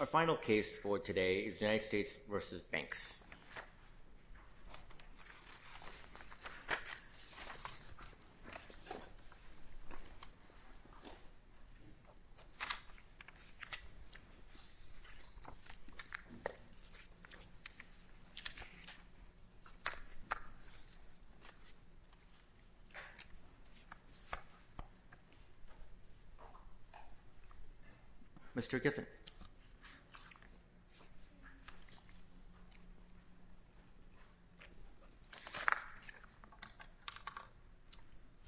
Our final case for today is United States v. Banks. Mr. Giffen.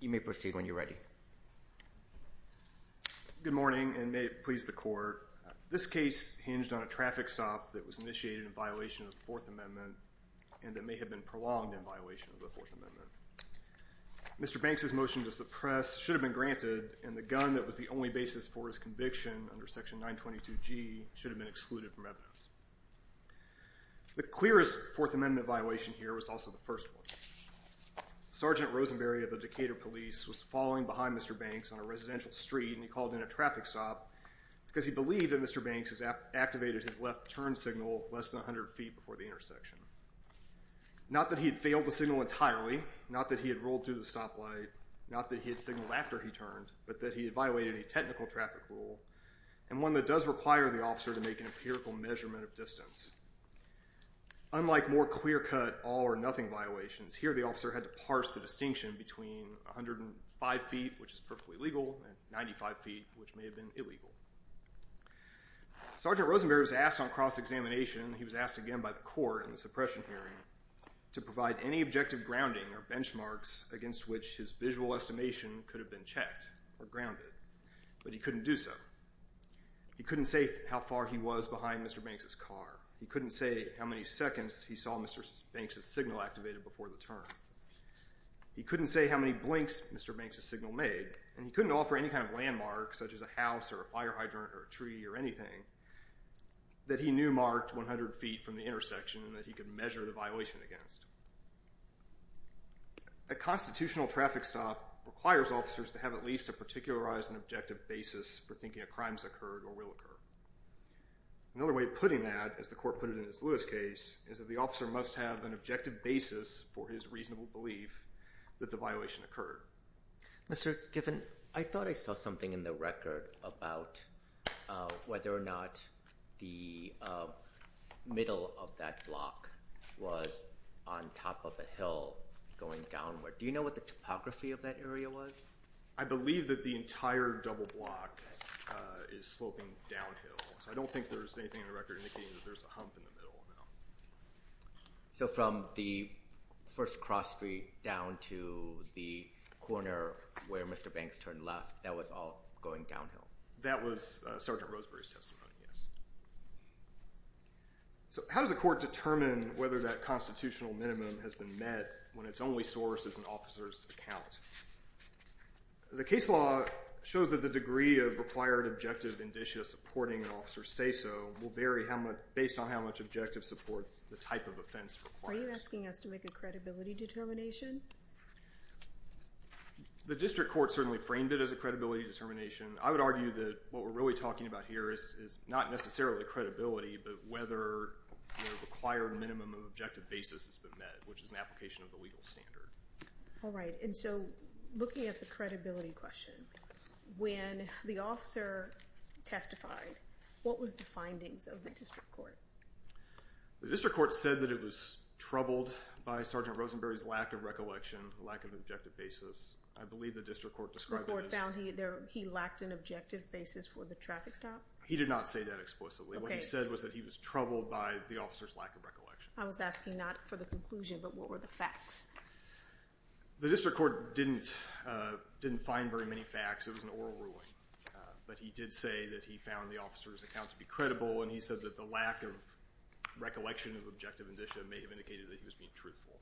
You may proceed when you're ready. Good morning and may it please the court. This case hinged on a traffic stop that was initiated in violation of the Fourth Amendment and that may have been prolonged in violation of the Fourth Amendment. Mr. Banks' motion to suppress should have been granted and the gun that was the only basis for his conviction under Section 922G should have been excluded from evidence. The clearest Fourth Amendment violation here was also the first one. Sergeant Rosenberry of the Decatur Police was following behind Mr. Banks on a residential street and he called in a traffic stop because he believed that Mr. Banks had activated his left turn signal less than 100 feet before the intersection. Not that he had failed the signal entirely, not that he had rolled through the stoplight, not that he had signaled after he turned, but that he had violated a technical traffic rule and one that does require the officer to make an empirical measurement of distance. Unlike more clear-cut all-or-nothing violations, here the officer had to parse the distinction between 105 feet, which is perfectly legal, and 95 feet, which may have been illegal. Sergeant Rosenberry was asked on cross-examination, he was asked again by the court in the suppression hearing, to provide any objective grounding or benchmarks against which his visual estimation could have been checked or grounded, but he couldn't do so. He couldn't say how far he was behind Mr. Banks' car. He couldn't say how many seconds he saw Mr. Banks' signal activated before the turn. He couldn't say how many blinks Mr. Banks' signal made, and he couldn't offer any kind of landmark, such as a house or a fire hydrant or a tree or anything, that he knew marked 100 feet from the intersection and that he could measure the violation against. A constitutional traffic stop requires officers to have at least a particularized and objective basis for thinking a crime has occurred or will occur. Another way of putting that, as the court put it in Ms. Lewis' case, is that the officer must have an objective basis for his reasonable belief that the violation occurred. Mr. Giffen, I thought I saw something in the record about whether or not the middle of that block was on top of a hill going downward. Do you know what the topography of that area was? I believe that the entire double block is sloping downhill, so I don't think there's anything in the record indicating that there's a hump in the middle. So from the first cross street down to the corner where Mr. Banks turned left, that was all going downhill? That was Sergeant Roseberry's testimony, yes. So how does a court determine whether that constitutional minimum has been met when its only source is an officer's account? The case law shows that the degree of required objective indicia supporting an officer's say-so will vary based on how much objective support the type of offense requires. Are you asking us to make a credibility determination? The district court certainly framed it as a credibility determination. I would argue that what we're really talking about here is not necessarily credibility, but whether the required minimum of objective basis has been met, which is an application of the legal standard. All right, and so looking at the credibility question, when the officer testified, what was the findings of the district court? The district court said that it was troubled by Sergeant Rosenberry's lack of recollection, lack of objective basis. I believe the district court described it as... The court found he lacked an objective basis for the traffic stop? He did not say that explicitly. What he said was that he was troubled by the officer's lack of recollection. I was asking not for the conclusion, but what were the facts? The district court didn't find very many facts. It was an oral ruling. But he did say that he found the officer's account to be credible, and he said that the lack of recollection of objective indicia may have indicated that he was being truthful.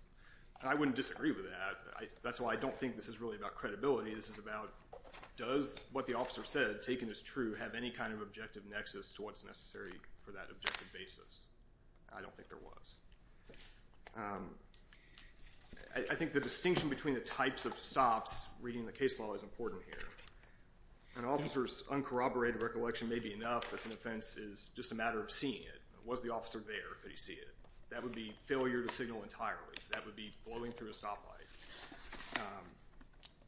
And I wouldn't disagree with that. That's why I don't think this is really about credibility. This is about does what the officer said, taken as true, have any kind of objective nexus to what's necessary for that objective basis? I don't think there was. I think the distinction between the types of stops, reading the case law, is important here. An officer's uncorroborated recollection may be enough if an offense is just a matter of seeing it. Was the officer there? Did he see it? That would be failure to signal entirely. That would be blowing through a stoplight.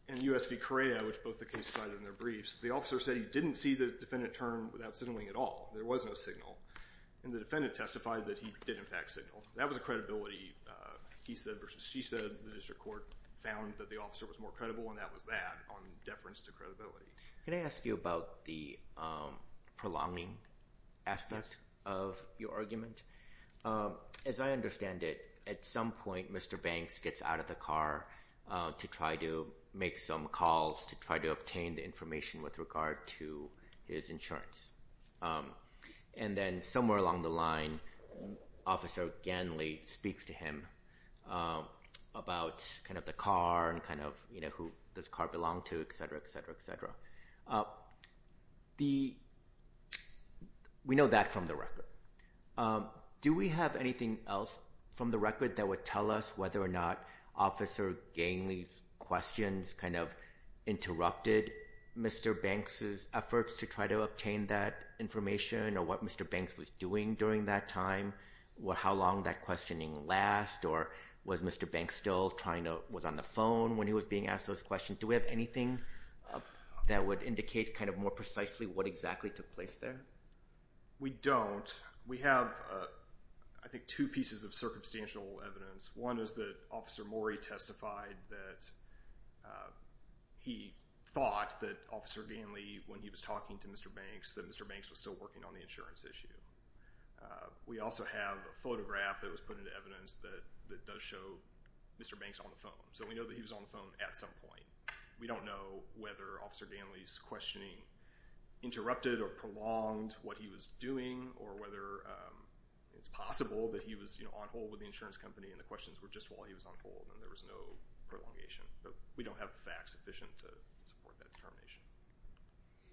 In U.S. v. Correa, which both the cases cited in their briefs, the officer said he didn't see the defendant turn without signaling at all. There was no signal, and the defendant testified that he did, in fact, signal. That was a credibility he said versus she said. The district court found that the officer was more credible, and that was that on deference to credibility. Can I ask you about the prolonging aspect of your argument? As I understand it, at some point, Mr. Banks gets out of the car to try to make some calls to try to obtain the information with regard to his insurance. Then somewhere along the line, Officer Ganley speaks to him about the car and who this car belonged to, etc., etc., etc. We know that from the record. Do we have anything else from the record that would tell us whether or not Officer Ganley's questions interrupted Mr. Banks' efforts to try to obtain that information or what Mr. Banks was doing during that time? How long did that questioning last, or was Mr. Banks still on the phone when he was being asked those questions? Do we have anything that would indicate more precisely what exactly took place there? We don't. We have, I think, two pieces of circumstantial evidence. One is that Officer Morey testified that he thought that Officer Ganley, when he was talking to Mr. Banks, that Mr. Banks was still working on the insurance issue. We also have a photograph that was put into evidence that does show Mr. Banks on the phone, so we know that he was on the phone at some point. We don't know whether Officer Ganley's questioning interrupted or prolonged what he was doing or whether it's possible that he was on hold with the insurance company and the questions were just while he was on hold and there was no prolongation. We don't have facts sufficient to support that determination.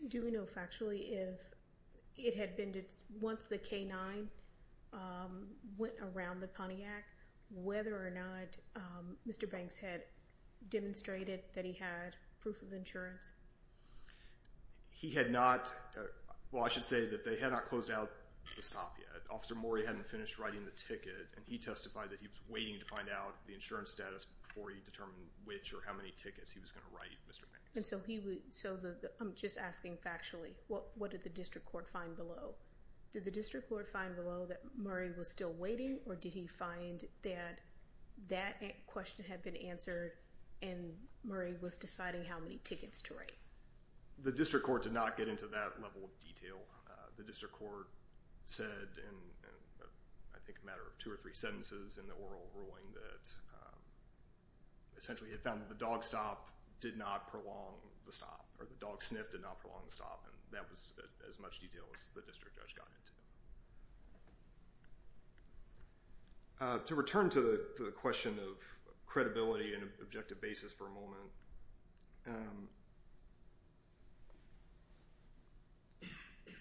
Do we know factually if it had been once the K-9 went around the Pontiac, whether or not Mr. Banks had demonstrated that he had proof of insurance? He had not, well I should say that they had not closed out the stop yet. Officer Morey hadn't finished writing the ticket and he testified that he was waiting to find out the insurance status before he determined which or how many tickets he was going to write Mr. Banks. I'm just asking factually, what did the district court find below? Did the district court find below that Murray was still waiting or did he find that that question had been answered and Murray was deciding how many tickets to write? The district court did not get into that level of detail. The district court said in I think a matter of two or three sentences in the oral ruling that essentially it found that the dog stop did not prolong the stop or the dog sniff did not prolong the stop and that was as much detail as the district judge got into. To return to the question of credibility and objective basis for a moment,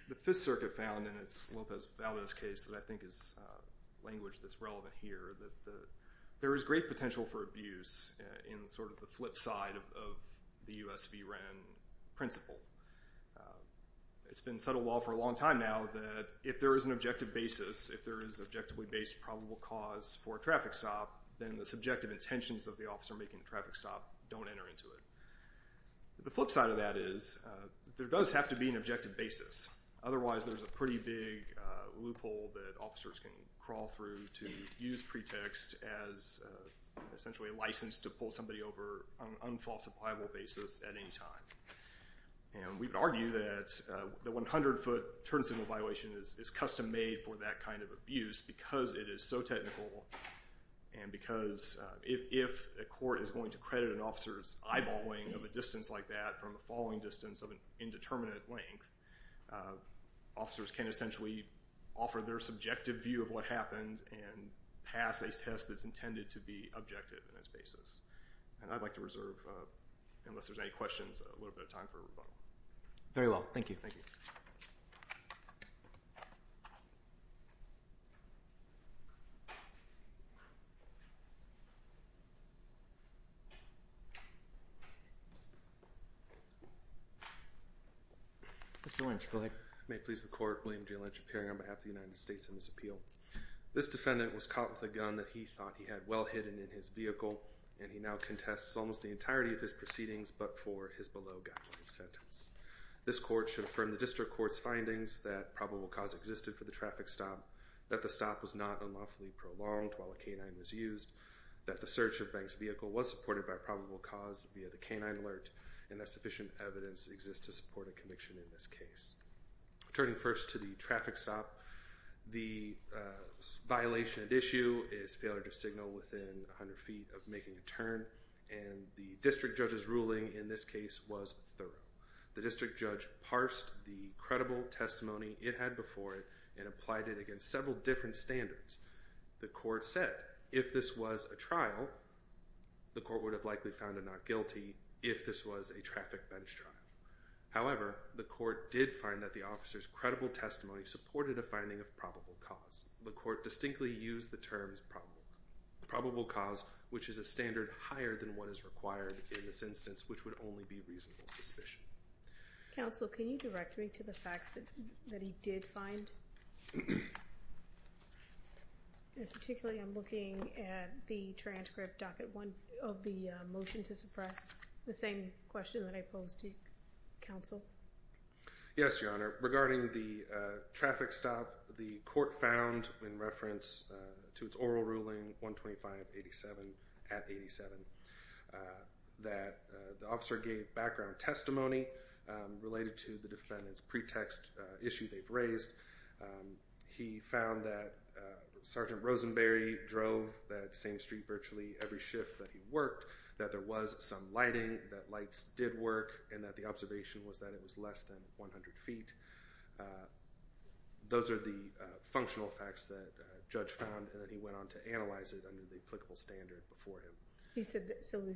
the Fifth Circuit found in its Lopez-Valdez case that I think is language that's relevant here that there is great potential for abuse in sort of the flip side of the U.S. v. Wren principle. It's been subtle law for a long time now that if there is an objective basis, if there is objectively based probable cause for a traffic stop, then the subjective intentions of the officer making the traffic stop don't enter into it. The flip side of that is there does have to be an objective basis. Otherwise there's a pretty big loophole that officers can crawl through to use pretext as essentially a license to pull somebody over on an unfalse appliable basis at any time. And we would argue that the 100 foot turn signal violation is custom made for that kind of abuse because it is so technical and because if a court is going to credit an officer's eyeballing of a distance like that from the following distance of an indeterminate length, officers can essentially offer their subjective view of what happened and pass a test that's intended to be objective in its basis. And I'd like to reserve, unless there's any questions, a little bit of time for rebuttal. Very well. Thank you. Mr. Lynch, go ahead. May it please the court. William J. Lynch, appearing on behalf of the United States in this appeal. This defendant was caught with a gun that he thought he had well hidden in his vehicle and he now contests almost the entirety of his proceedings but for his below guideline sentence. This court should affirm that the defendant was caught with a gun that he thought he had well hidden in his vehicle and he now contests almost the entirety of his proceedings but for his below guideline sentence. We should affirm the district court's findings that probable cause existed for the traffic stop, that the stop was not unlawfully prolonged while a canine was used, that the search of Banks' vehicle was supported by probable cause via the canine alert, and that sufficient evidence exists to support a conviction in this case. Turning first to the traffic stop, the violation at issue is failure to signal within 100 feet of making a turn and the district judge's ruling in this case was thorough. The district judge parsed the credible testimony it had before it and applied it against several different standards. The court said if this was a trial, the court would have likely found him not guilty if this was a traffic bench trial. However, the court did find that the officer's credible testimony supported a finding of probable cause. The court distinctly used the term probable cause which is a standard higher than what is required in this instance which would only be reasonable suspicion. Counsel, can you direct me to the facts that he did find? Particularly, I'm looking at the transcript docket one of the motion to suppress the same question that I posed to counsel. Yes, Your Honor. Regarding the traffic stop, the court found in reference to its oral ruling 125-87-87 that the officer gave background testimony related to the defendant's pretext issue they've raised. He found that Sergeant Rosenberry drove that same street virtually every shift that he worked, that there was some lighting, that lights did work, and that the observation was that it was less than 100 feet. Those are the functional facts that Judge found and then he went on to analyze it under the applicable standard before him. So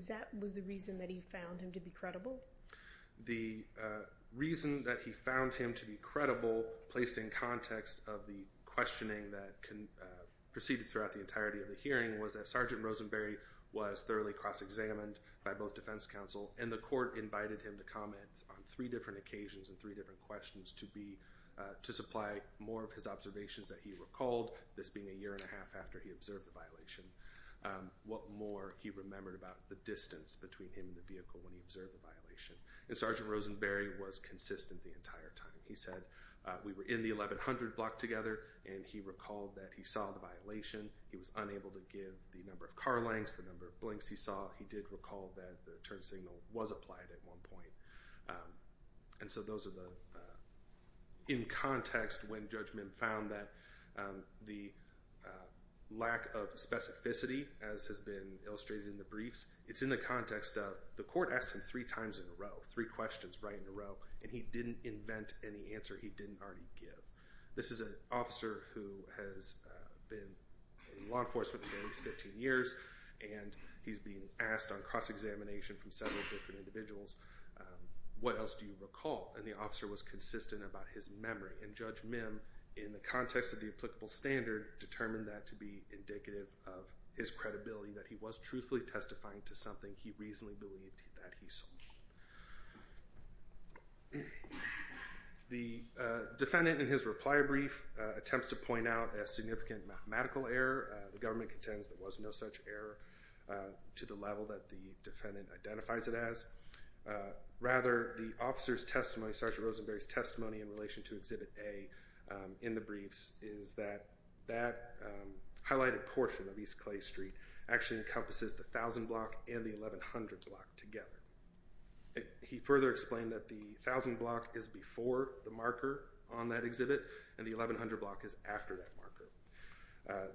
that was the reason that he found him to be credible? The reason that he found him to be credible placed in context of the questioning that proceeded throughout the entirety of the hearing was that Sergeant Rosenberry was thoroughly cross-examined by both defense counsel and the court invited him to comment on three different occasions and three different questions to supply more of his observations that he recalled, this being a year and a half after he observed the violation. What more he remembered about the distance between him and the vehicle when he observed the violation. And Sergeant Rosenberry was consistent the entire time. He said we were in the 1100 block together and he recalled that he saw the violation. He was unable to give the number of car lengths, the number of blinks he saw. He did recall that the turn signal was applied at one point. And so those are the, in context when Judge Mint found that the lack of specificity, as has been illustrated in the briefs, it's in the context of the court asked him three times in a row, three questions right in a row, and he didn't invent any answer he didn't already give. This is an officer who has been in law enforcement for at least 15 years and he's being asked on cross-examination from several different individuals, what else do you recall? And the officer was consistent about his memory. And Judge Mim, in the context of the applicable standard, determined that to be indicative of his credibility, that he was truthfully testifying to something he reasonably believed that he saw. The defendant in his reply brief attempts to point out a significant mathematical error. The government contends there was no such error to the level that the defendant identifies it as. Rather, the officer's testimony, Sergeant Rosenberry's testimony in relation to Exhibit A in the briefs, is that that highlighted portion of East Clay Street actually encompasses the 1000 block and the 1100 block together. He further explained that the 1000 block is before the marker on that exhibit and the 1100 block is after that marker.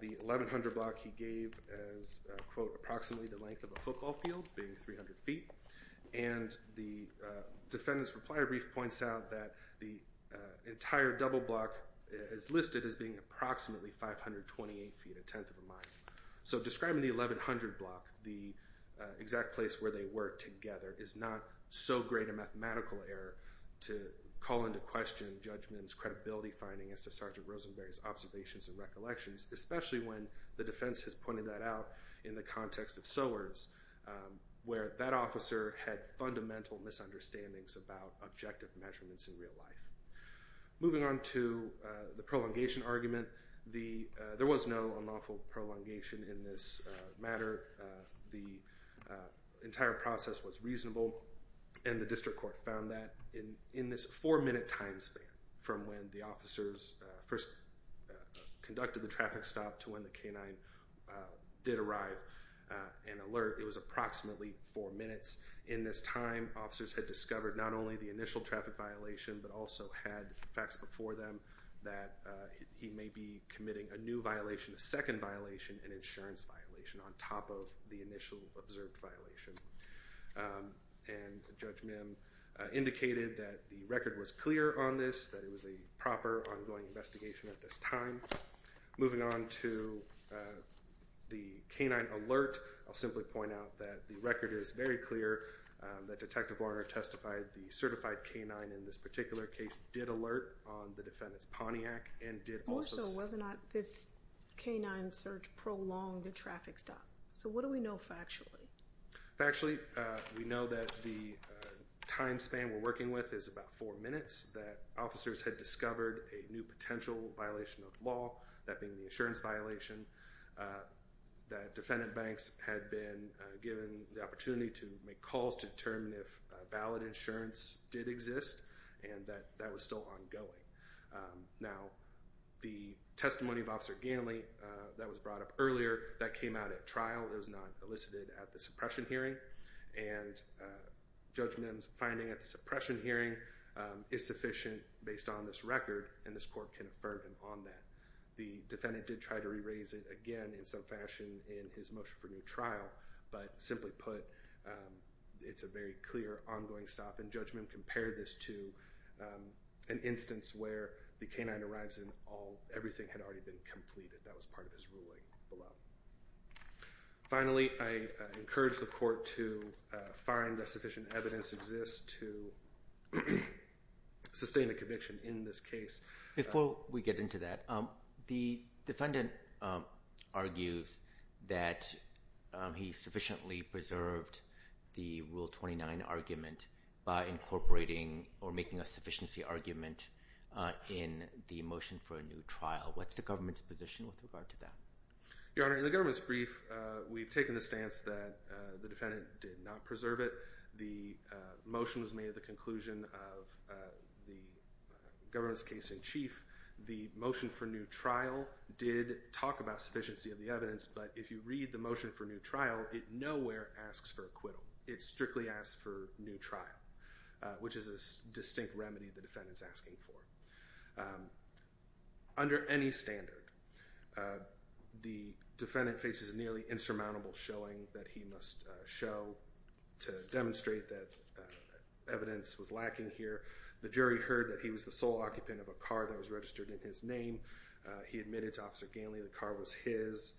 The 1100 block he gave as, quote, approximately the length of a football field, being 300 feet. And the defendant's reply brief points out that the entire double block is listed as being approximately 528 feet, a tenth of a mile. So describing the 1100 block, the exact place where they were together, is not so great a mathematical error to call into question Judge Mim's credibility finding as to Sergeant Rosenberry's observations and recollections, especially when the defense has pointed that out in the context of Sowers, where that officer had fundamental misunderstandings about objective measurements in real life. Moving on to the prolongation argument, there was no unlawful prolongation in this matter. The entire process was reasonable, and the district court found that in this four minute time span from when the officers first conducted the traffic stop to when the canine did arrive and alert, it was approximately four minutes. In this time, officers had discovered not only the initial traffic violation, but also had facts before them that he may be committing a new violation, a second violation, an insurance violation on top of the initial observed violation. And Judge Mim indicated that the record was clear on this, that it was a proper ongoing investigation at this time. Moving on to the canine alert, I'll simply point out that the record is very clear, that Detective Warner testified the certified canine in this particular case did alert on the defendant's Pontiac and did also... More so whether or not this canine search prolonged the traffic stop. So what do we know factually? Factually, we know that the time span we're working with is about four minutes, that officers had discovered a new potential violation of law, that being the insurance violation, that defendant banks had been given the opportunity to make calls to determine if valid insurance did exist, and that that was still ongoing. Now, the testimony of Officer Ganley that was brought up earlier, that came out at trial, it was not elicited at the suppression hearing, and Judge Mim's finding at the suppression hearing is sufficient based on this record, and this court can affirm him on that. The defendant did try to re-raise it again in some fashion in his motion for new trial, but simply put, it's a very clear ongoing stop, and Judge Mim compared this to an instance where the canine arrives and everything had already been completed. That was part of his ruling below. Finally, I encourage the court to find that sufficient evidence exists to sustain a conviction in this case. Before we get into that, the defendant argues that he sufficiently preserved the Rule 29 argument by incorporating or making a sufficiency argument in the motion for a new trial. What's the government's position with regard to that? Your Honor, in the government's brief, we've taken the stance that the defendant did not preserve it. The motion was made at the conclusion of the government's case in chief. The motion for new trial did talk about sufficiency of the evidence, but if you read the motion for new trial, it nowhere asks for acquittal. It strictly asks for new trial, which is a distinct remedy the defendant's asking for. Under any standard, the defendant faces nearly insurmountable showing that he must show to demonstrate that evidence was lacking here. The jury heard that he was the sole occupant of a car that was registered in his name. He admitted to Officer Ganley the car was his,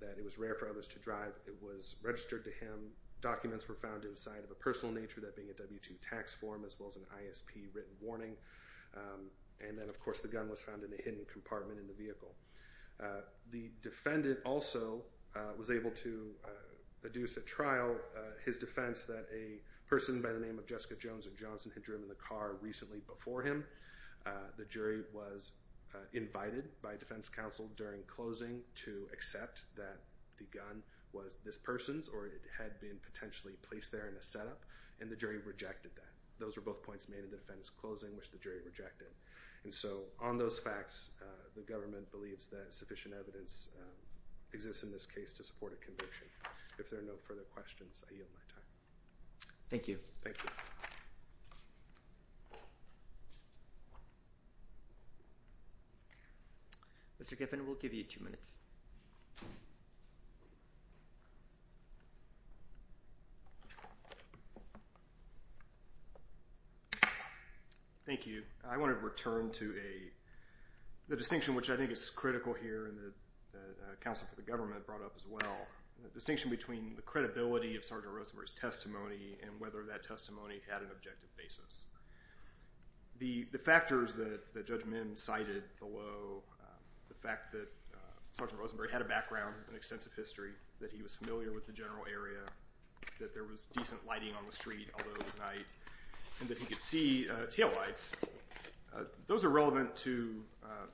that it was rare for others to drive. It was registered to him. Documents were found inside of a personal nature, that being a W-2 tax form as well as an ISP written warning. And then, of course, the gun was found in a hidden compartment in the vehicle. The defendant also was able to adduce at trial his defense that a person by the name of Jessica Jones at Johnson had driven the car recently before him. The jury was invited by defense counsel during closing to accept that the gun was this person's or it had been potentially placed there in a setup, and the jury rejected that. Those were both points made in the defense closing, which the jury rejected. And so on those facts, the government believes that sufficient evidence exists in this case to support a conviction. If there are no further questions, I yield my time. Thank you. Thank you. Mr. Giffen, we'll give you two minutes. Thank you. I want to return to the distinction, which I think is critical here and that counsel for the government brought up as well, the distinction between the credibility of Sergeant Rosenberry's testimony and whether that testimony had an objective basis. The factors that Judge Min cited below, the fact that Sergeant Rosenberry had a background and extensive history, that he was familiar with the general area, that there was decent lighting on the street, although it was night, and that he could see taillights, those are relevant to,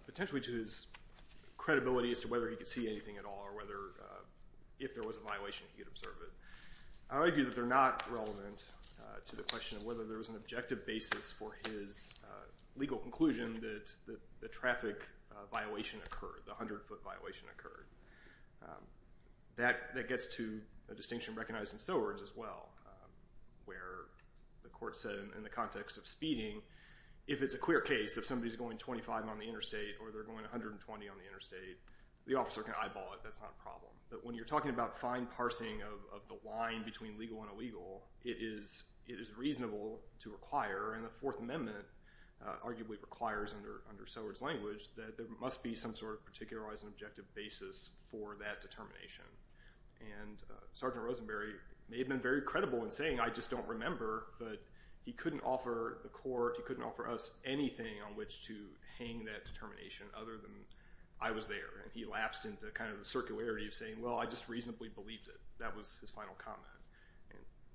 potentially to his credibility as to whether he could see anything at all or whether, if there was a violation, he could observe it. I argue that they're not relevant to the question of whether there was an objective basis for his legal conclusion that the traffic violation occurred, the 100-foot violation occurred. That gets to a distinction recognized in Sowers as well, where the court said in the context of speeding, if it's a clear case, if somebody's going 25 on the interstate or they're going 120 on the interstate, the officer can eyeball it. That's not a problem. But when you're talking about fine parsing of the line between legal and illegal, it is reasonable to require, and the Fourth Amendment arguably requires under Sowers' language that there must be some sort of particularizing objective basis for that determination. And Sergeant Rosenberry may have been very credible in saying, I just don't remember, but he couldn't offer the court, he couldn't offer us anything on which to hang that determination other than I was there. And he lapsed into kind of the circularity of saying, well, I just reasonably believed it. That was his final comment.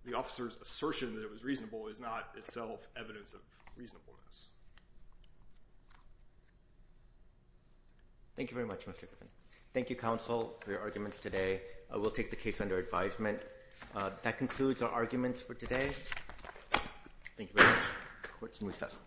The officer's assertion that it was reasonable is not itself evidence of reasonableness. Thank you very much, Mr. Griffin. Thank you, counsel, for your arguments today. We'll take the case under advisement. That concludes our arguments for today. Thank you very much. Court is in recess.